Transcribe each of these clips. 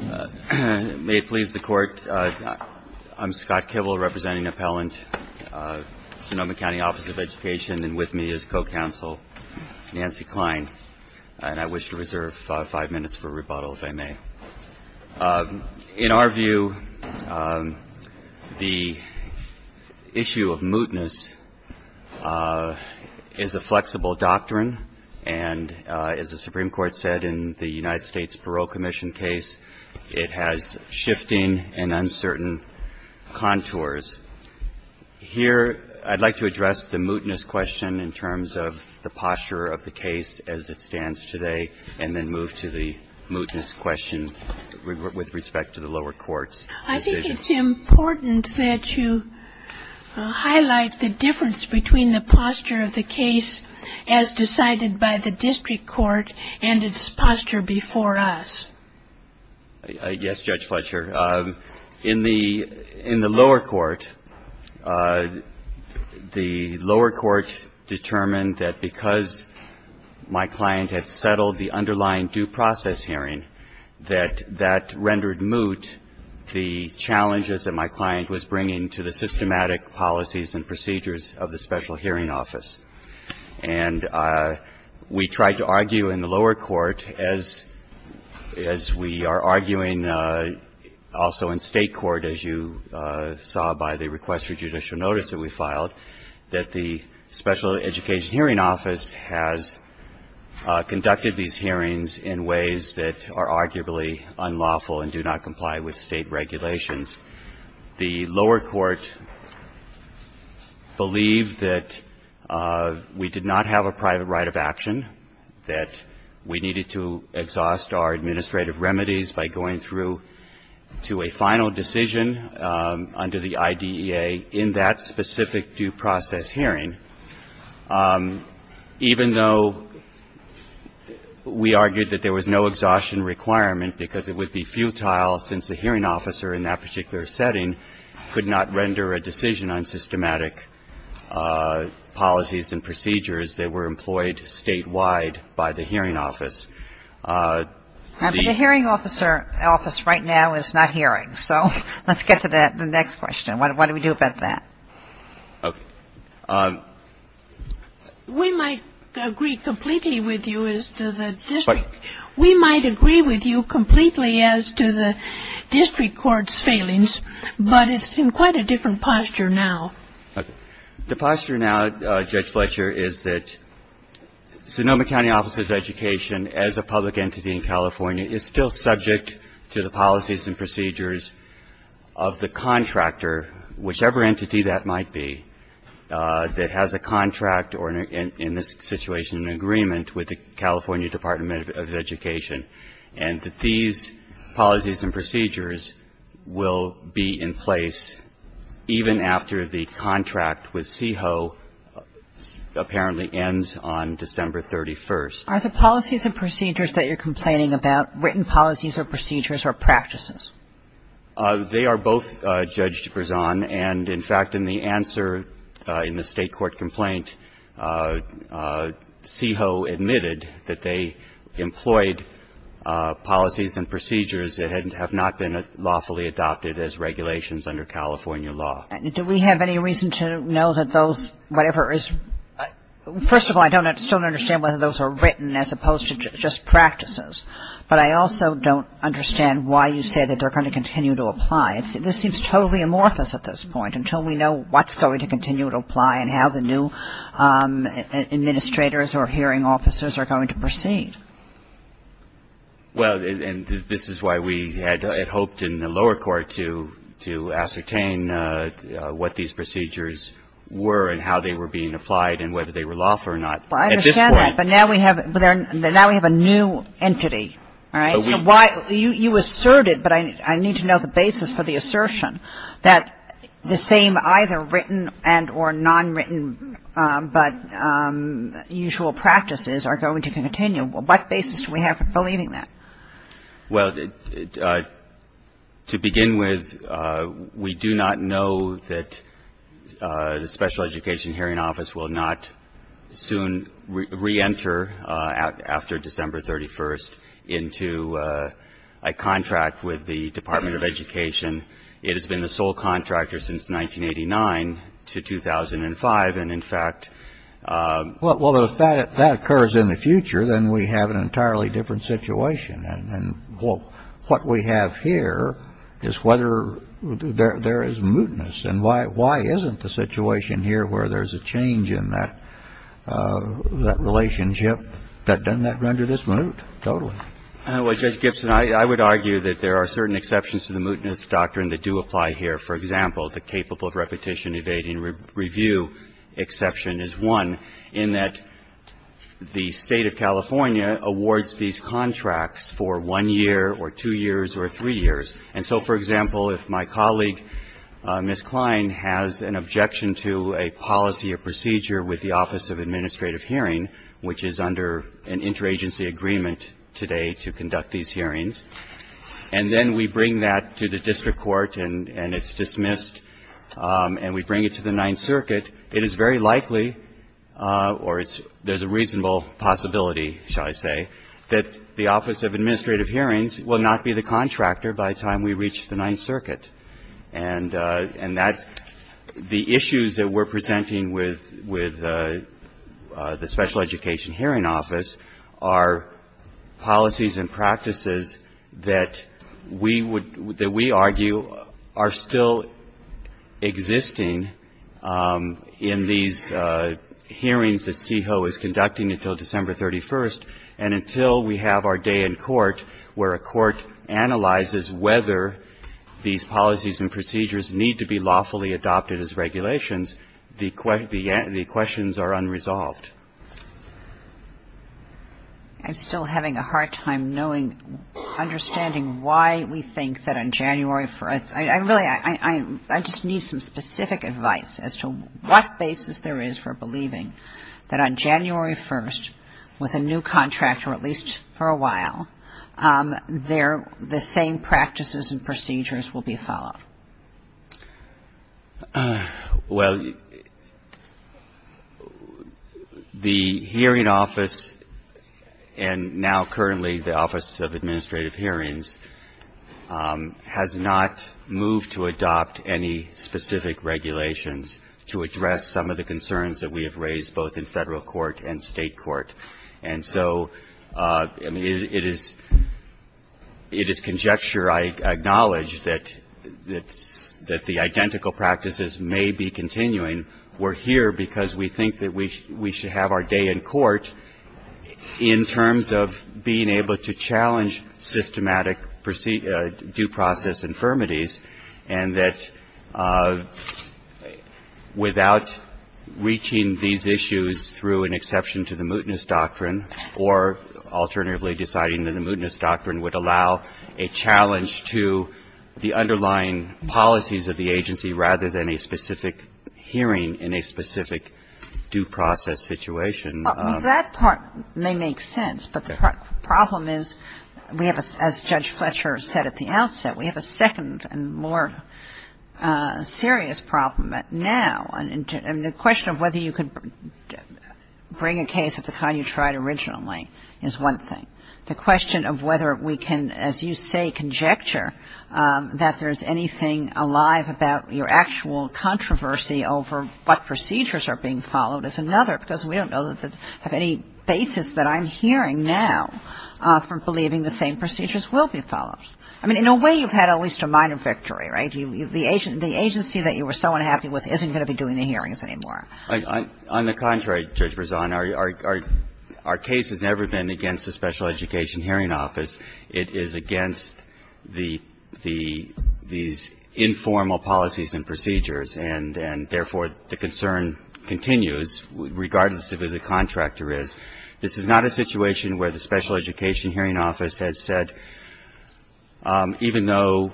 May it please the Court, I'm Scott Kibble representing Appellant, Sonoma County Office of Education, and with me is Co-Counsel Nancy Klein. And I wish to reserve five minutes for rebuttal, if I may. In our view, the issue of mootness is a flexible doctrine, and as the Supreme Court said in the United States Parole Commission case, it has shifting and uncertain contours. Here, I'd like to address the mootness question in terms of the posture of the case as it stands today, and then move to the mootness question with respect to the lower courts. I think it's important that you highlight the difference between the posture of the case as decided by the district court and its posture before us. Yes, Judge Fletcher. In the lower court, the lower court determined that because my client had settled the underlying due process hearing, that that rendered moot the challenges that my client was bringing to the systematic policies and procedures of the Special Hearing Office. And we tried to argue in the lower court, as we are arguing also in State court, as you saw by the request for judicial notice that we filed, that the Special Education Hearing Office has conducted these hearings in ways that are arguably unlawful and do not comply with State regulations. The lower court believed that we did not have a private right of action, that we needed to exhaust our administrative remedies by going through to a final decision under the IDEA in that specific due process hearing, even though we argued that there was no exhaustion requirement because it would be futile since a hearing officer in that particular setting could not render a decision on systematic policies and procedures that were employed statewide by the hearing office. The hearing officer office right now is not hearing. So let's get to the next question. What do we do about that? Okay. We might agree completely with you as to the district. We might agree with you completely as to the district court's failings, but it's in quite a different posture now. The posture now, Judge Fletcher, is that Sonoma County Office of Education, as a public entity in California, is still subject to the policies and procedures of the contractor, whichever entity that might be, that has a contract or in this situation an agreement with the California Department of Education, and that these policies and procedures will be in place even after the contract with CEHO apparently ends on December 31st. Are the policies and procedures that you're complaining about written policies or procedures or practices? They are both, Judge Berzon, and, in fact, in the answer in the State court complaint, CEHO admitted that they employed policies and procedures that had not been lawfully adopted as regulations under California law. Do we have any reason to know that those whatever is – first of all, I don't still understand whether those are written as opposed to just practices. But I also don't understand why you say that they're going to continue to apply. This seems totally amorphous at this point, until we know what's going to continue to apply and how the new administrators or hearing officers are going to proceed. Well, and this is why we had hoped in the lower court to ascertain what these procedures were and how they were being applied and whether they were lawful or not. Well, I understand that. But now we have a new entity, all right? So why – you asserted, but I need to know the basis for the assertion, that the same either written and or nonwritten but usual practices are going to continue. What basis do we have for believing that? Well, to begin with, we do not know that the Special Education Hearing Office will not soon re-enter after December 31st into a contract with the Department of Education. It has been the sole contractor since 1989 to 2005. And in fact – Well, if that occurs in the future, then we have an entirely different situation. And what we have here is whether there is mootness. And why isn't the situation here where there's a change in that relationship that doesn't render this moot? Totally. Well, Judge Gibson, I would argue that there are certain exceptions to the mootness doctrine that do apply here. For example, the capable of repetition evading review exception is one in that the State of California awards these contracts for one year or two years or three years. And so, for example, if my colleague, Ms. Klein, has an objection to a policy or procedure with the Office of Administrative Hearing, which is under an interagency agreement today to conduct these hearings, and then we bring that to the district court and it's dismissed and we bring it to the Ninth Circuit, it is very likely or there's a reasonable possibility, shall I say, that the Office of Administrative Hearing is going to dismiss it by the time we reach the Ninth Circuit. And that's the issues that we're presenting with the Special Education Hearing Office are policies and practices that we would argue are still existing in these hearings that CEHO is conducting until December 31st and until we have our day in court where a court analyzes whether these policies and procedures need to be lawfully adopted as regulations, the questions are unresolved. I'm still having a hard time knowing, understanding why we think that on January 1st, I really, I just need some specific advice as to what basis there is for believing that on January 1st, with a new contract or at least for a while, there, the same practices and procedures will be followed. Well, the hearing office and now currently the Office of Administrative Hearings has not moved to adopt any specific regulations to address some of the issues both in federal court and state court. And so, I mean, it is conjecture I acknowledge that the identical practices may be continuing. We're here because we think that we should have our day in court in terms of being able to challenge systematic due process infirmities and that without reaching these issues through an exception to the mootness doctrine or alternatively deciding that the mootness doctrine would allow a challenge to the underlying policies of the agency rather than a specific hearing in a specific due process situation. That part may make sense, but the problem is we have, as Judge Fletcher said at the beginning, the question of whether we can bring a case of the kind you tried originally is one thing. The question of whether we can, as you say, conjecture that there's anything alive about your actual controversy over what procedures are being followed is another because we don't know of any basis that I'm hearing now for believing the same procedures will be followed. I mean, in a way you've had at least a minor victory, right? The agency that you were so unhappy with isn't going to be doing the hearings anymore. On the contrary, Judge Brezon, our case has never been against the Special Education Hearing Office. It is against the these informal policies and procedures, and therefore, the concern continues regardless of who the contractor is. This is not a situation where the Special Education Hearing Office has said even though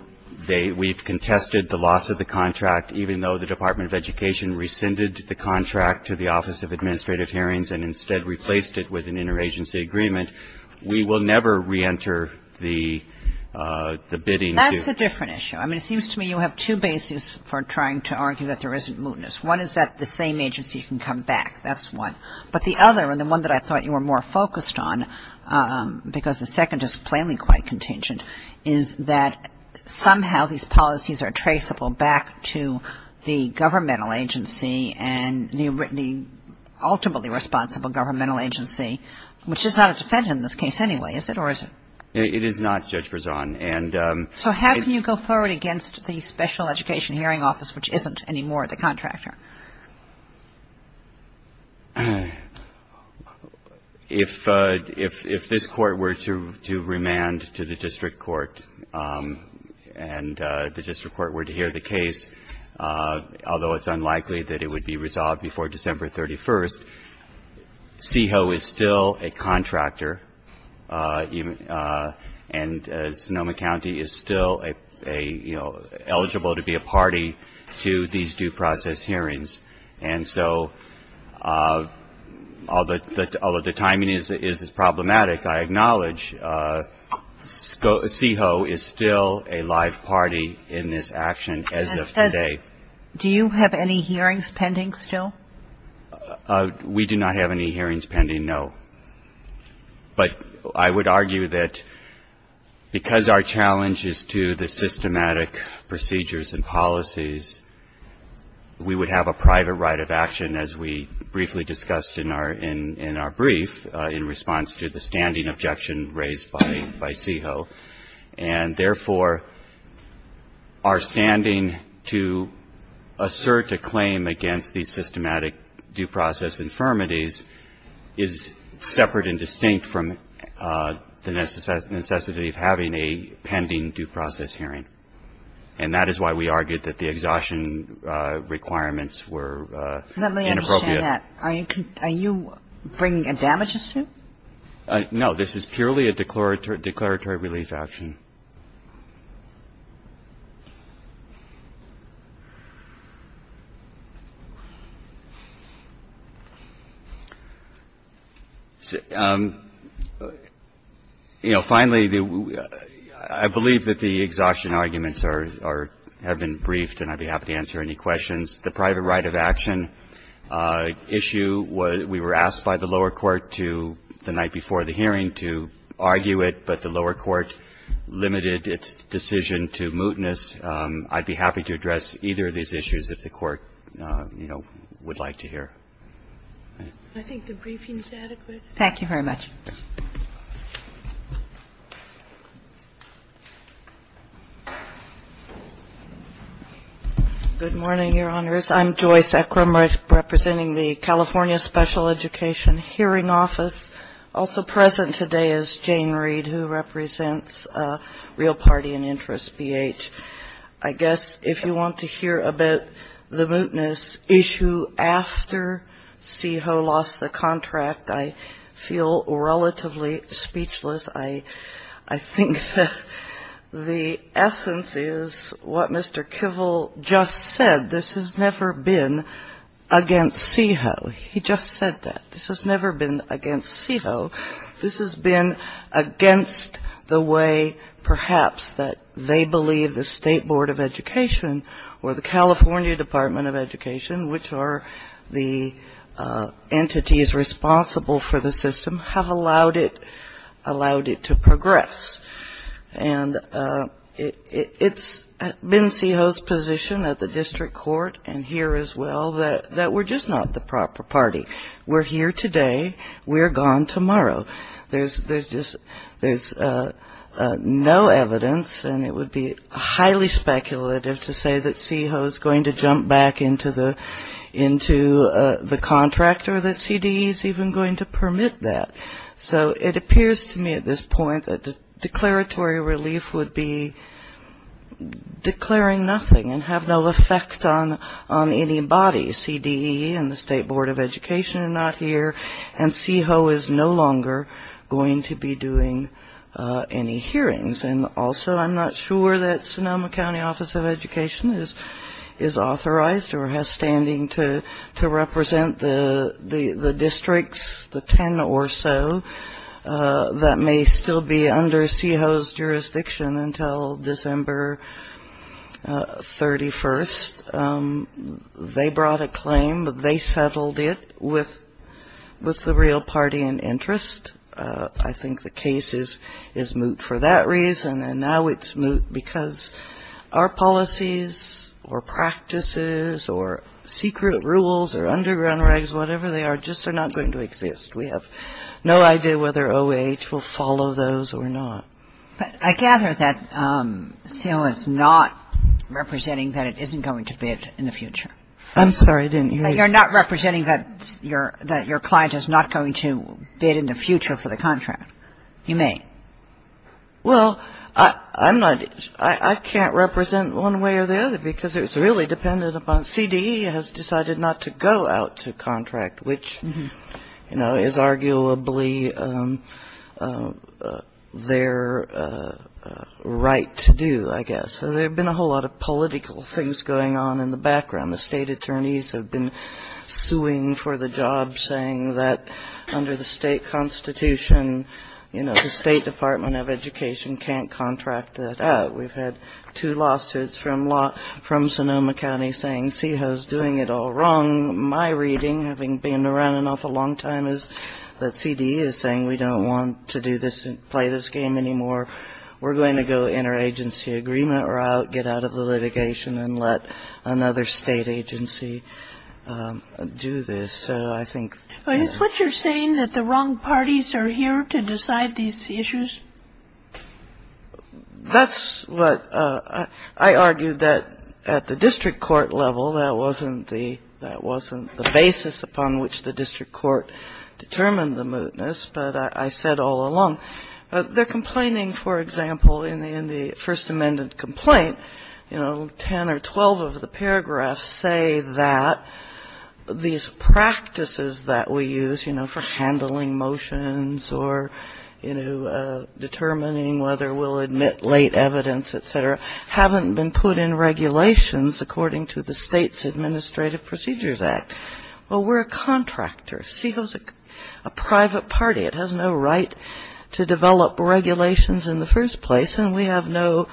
they we've contested the loss of the contract, even though the Department of Education rescinded the contract to the Office of Administrative Hearings and instead replaced it with an interagency agreement, we will never reenter the bidding to do. That's a different issue. I mean, it seems to me you have two bases for trying to argue that there isn't mootness. One is that the same agency can come back. That's one. But the other, and the one that I thought you were more focused on, because the second is plainly quite contingent, is that somehow these policies are traceable back to the governmental agency and the ultimately responsible governmental agency, which is not a defendant in this case anyway, is it, or is it? It is not, Judge Brezon. So how can you go forward against the Special Education Hearing Office, which isn't anymore the contractor? If this Court were to remand to the district court and the district court were to hear the case, although it's unlikely that it would be resolved before December 31st, CEHO is still a contractor and Sonoma County is still a, you know, eligible to be a party to these due process hearings. And so although the timing is problematic, I acknowledge CEHO is still a live party in this action as of today. And do you have any hearings pending still? We do not have any hearings pending, no. But I would argue that because our challenge is to the systematic procedures and policies, we would have a private right of action as we briefly discussed in our brief in response to the standing objection raised by CEHO. And therefore, our standing to assert a claim against these systematic due process infirmities is separate and distinct from the necessity of having a pending due process hearing. And that is why we argued that the exhaustion requirements were inappropriate. Let me understand that. Are you bringing a damages suit? No. This is purely a declaratory relief action. Finally, I believe that the exhaustion arguments have been briefed and I'd be happy to answer any questions. The private right of action issue, we were asked by the lower court the night before the hearing to argue it, but the lower court limited its decision to mootness. I'd be happy to address either of these issues if the court, you know, would like to hear. I think the briefing is adequate. Thank you very much. Good morning, Your Honors. I'm Joy Sacrum representing the California Special Education Hearing Office. Also present today is Jane Reed who represents Real Party and Interest, BH. I guess if you want to hear about the mootness issue after CEHO lost the contract, I feel relatively speechless. I think the essence is what Mr. Kivel just said. This has never been against CEHO. He just said that. This has never been against CEHO. This has been against the way perhaps that they believe the State Board of Education or the California Department of Education, which are the entities responsible for the system, have allowed it to progress. And it's been CEHO's position at the district court and here as well that we're just not the proper party. We're here today. We're gone tomorrow. There's no evidence, and it would be highly speculative to say that CEHO is going to jump back into the contract or that CDE is even going to permit that. So it appears to me at this point that the declaratory relief would be declaring nothing and have no effect on anybody, CDE and the State Board of Education are not here, and CEHO is no longer going to be doing any hearings. And also I'm not sure that Sonoma County Office of Education is authorized or has standing to represent the districts, the 10 or so, that may still be under CEHO's jurisdiction until December 31st. They brought a claim. They settled it with the real party in interest. I think the case is moot for that reason, and now it's moot because our policies or practices or secret rules or underground regs, whatever they are, just are not going to exist. We have no idea whether OH will follow those or not. But I gather that CEHO is not representing that it isn't going to bid in the future. You're not representing that your client is not going to bid in the future for the contract. You may. Well, I'm not – I can't represent one way or the other because it's really dependent upon – CDE has decided not to go out to contract, which, you know, there have been a whole lot of political things going on in the background. The state attorneys have been suing for the job, saying that under the state constitution, you know, the State Department of Education can't contract that out. We've had two lawsuits from Sonoma County saying CEHO's doing it all wrong. My reading, having been around an awful long time, is that CDE is saying we don't want to do this and play this game anymore. We're going to go interagency agreement route, get out of the litigation, and let another state agency do this. So I think they're – But is what you're saying that the wrong parties are here to decide these issues? That's what – I argue that at the district court level, that wasn't the – But I said all along, they're complaining, for example, in the First Amendment complaint, you know, 10 or 12 of the paragraphs say that these practices that we use, you know, for handling motions or, you know, determining whether we'll admit late evidence, et cetera, haven't been put in regulations according to the State's Administrative Procedures Act. Well, we're a contractor. CEHO's a private party. It has no right to develop regulations in the first place, and we have no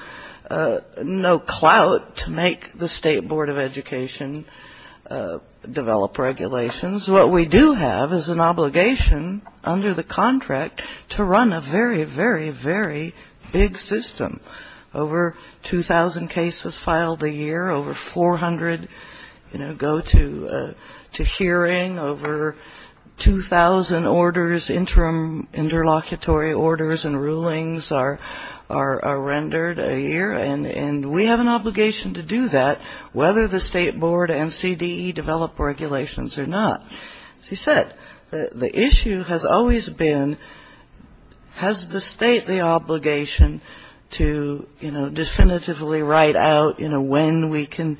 clout to make the State Board of Education develop regulations. What we do have is an obligation under the contract to run a very, very, very big system. Over 2,000 cases filed a year. Over 400, you know, go to hearing. Over 2,000 orders, interim interlocutory orders and rulings are rendered a year, and we have an obligation to do that, whether the State Board and CDE develop regulations or not. As you said, the issue has always been, has the State the obligation to, you know, definitively write out, you know, when we can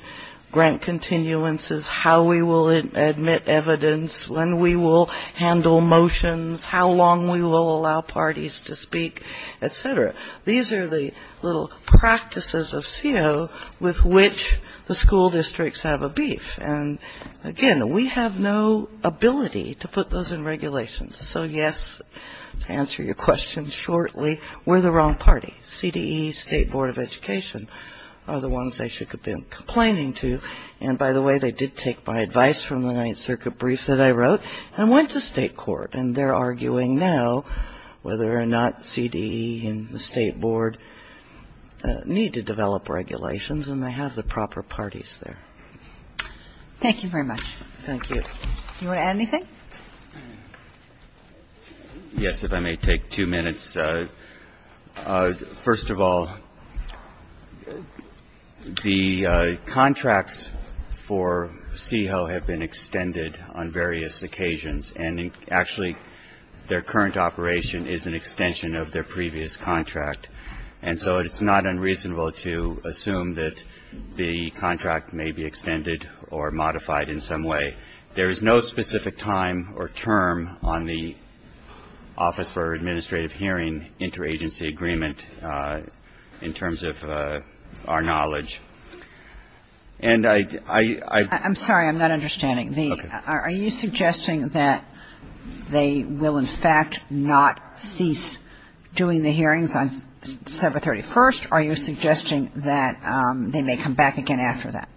grant continuances, how we will admit evidence, when we will handle motions, how long we will allow parties to speak, et cetera. These are the little practices of CEHO with which the school districts have a beef, and, again, we have no ability to put those in regulations. So, yes, to answer your question shortly, we're the wrong party. CDE, State Board of Education are the ones they should have been complaining to, and, by the way, they did take my advice from the Ninth Circuit brief that I wrote and went to state court, and they're arguing now whether or not CDE and the State Board need to develop regulations, and they have the proper parties there. Thank you very much. Thank you. Do you want to add anything? Yes, if I may take two minutes. First of all, the contracts for CEHO have been extended on various occasions, and, actually, their current operation is an extension of their previous contract, and so it's not unreasonable to assume that the contract may be extended or modified in some way. There is no specific time or term on the Office for Administrative Hearing interagency agreement in terms of our knowledge. And I — I'm sorry. I'm not understanding. Okay. Are you suggesting that they will, in fact, not cease doing the hearings on December 31st? Are you suggesting that they may come back again after that?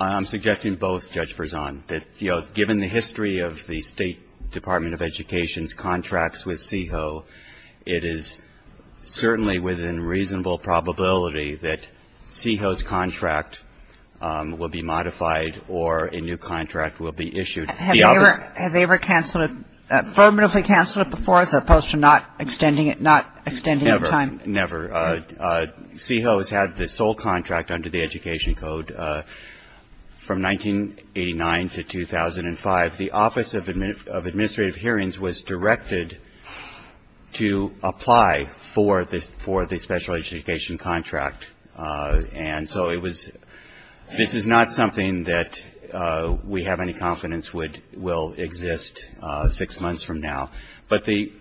I'm suggesting both, Judge Verzon, that, you know, given the history of the State Department of Education's contracts with CEHO, it is certainly within reasonable probability that CEHO's contract will be modified or a new contract will be issued. Have they ever canceled it, affirmatively canceled it before as opposed to not extending it, not extending the time? Never. CEHO has had the sole contract under the Education Code from 1989 to 2005. The Office of Administrative Hearings was directed to apply for the special education contract, and so it was — this is not something that we have any confidence would — will exist six months from now. But the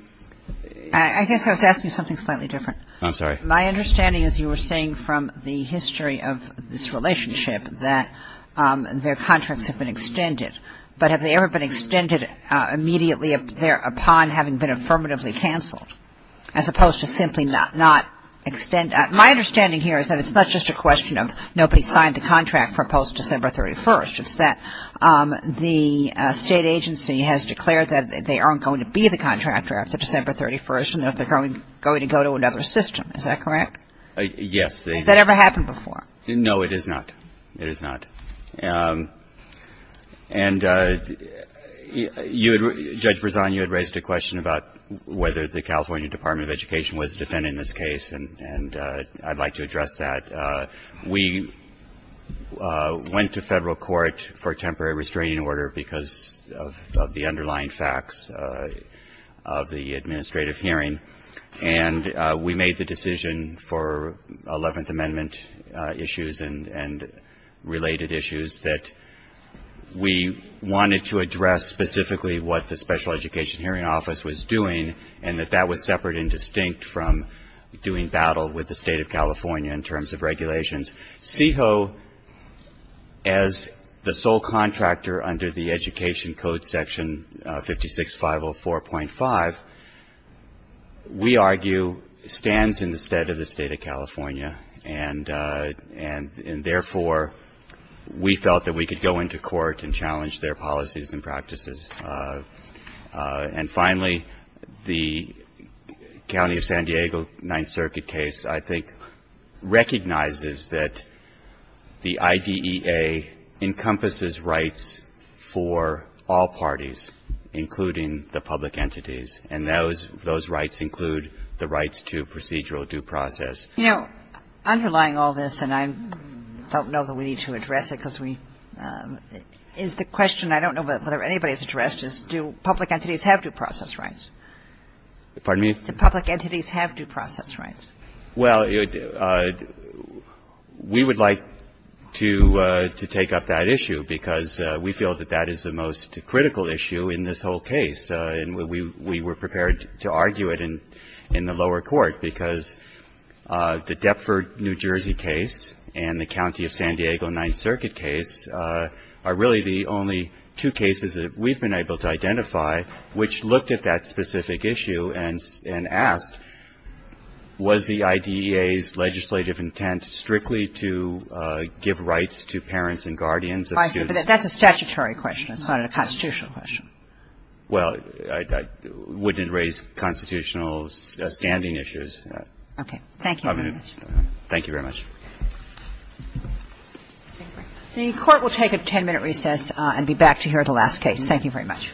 — I guess I was asking something slightly different. I'm sorry. My understanding is you were saying from the history of this relationship that their contracts have been extended. But have they ever been extended immediately upon having been affirmatively canceled as opposed to simply not extending? My understanding here is that it's not just a question of nobody signed the contract for post-December 31st. It's that the State agency has declared that they aren't going to be the contractor after December 31st and that they're going to go to another system. Is that correct? Yes. Has that ever happened before? No, it has not. It has not. And, Judge Berzon, you had raised a question about whether the California Department of Education was defending this case, and I'd like to address that. We went to Federal court for a temporary restraining order because of the underlying facts of the administrative hearing, and we made the decision for Eleventh Amendment issues and related issues that we wanted to address specifically what the Special Education Hearing Office was doing and that that was separate and distinct from doing battle with the State of California in terms of regulations. CEHO, as the sole contractor under the Education Code Section 56504.5, we argue, stands in the stead of the State of California, and therefore, we felt that we could go into court and challenge their policies and practices. And finally, the County of San Diego Ninth Circuit case, I think, recognizes that the IDEA encompasses rights for all parties, including the public entities, and those rights include the rights to procedural due process. You know, underlying all this, and I don't know that we need to address it because we — is the question, and I don't know whether anybody's interested, is do public entities have due process rights? Pardon me? Do public entities have due process rights? Well, we would like to take up that issue because we feel that that is the most critical issue in this whole case, and we were prepared to argue it in the lower court because the Deptford, New Jersey case and the County of San Diego Ninth Circuit case are really the only two cases that we've been able to identify which looked at that specific issue and asked, was the IDEA's legislative intent strictly to give rights to parents and guardians of students? I see. But that's a statutory question. It's not a constitutional question. Well, I wouldn't raise constitutional standing issues. Okay. Thank you very much. Thank you very much. The Court will take a 10-minute recess and be back to hear the last case. Thank you very much.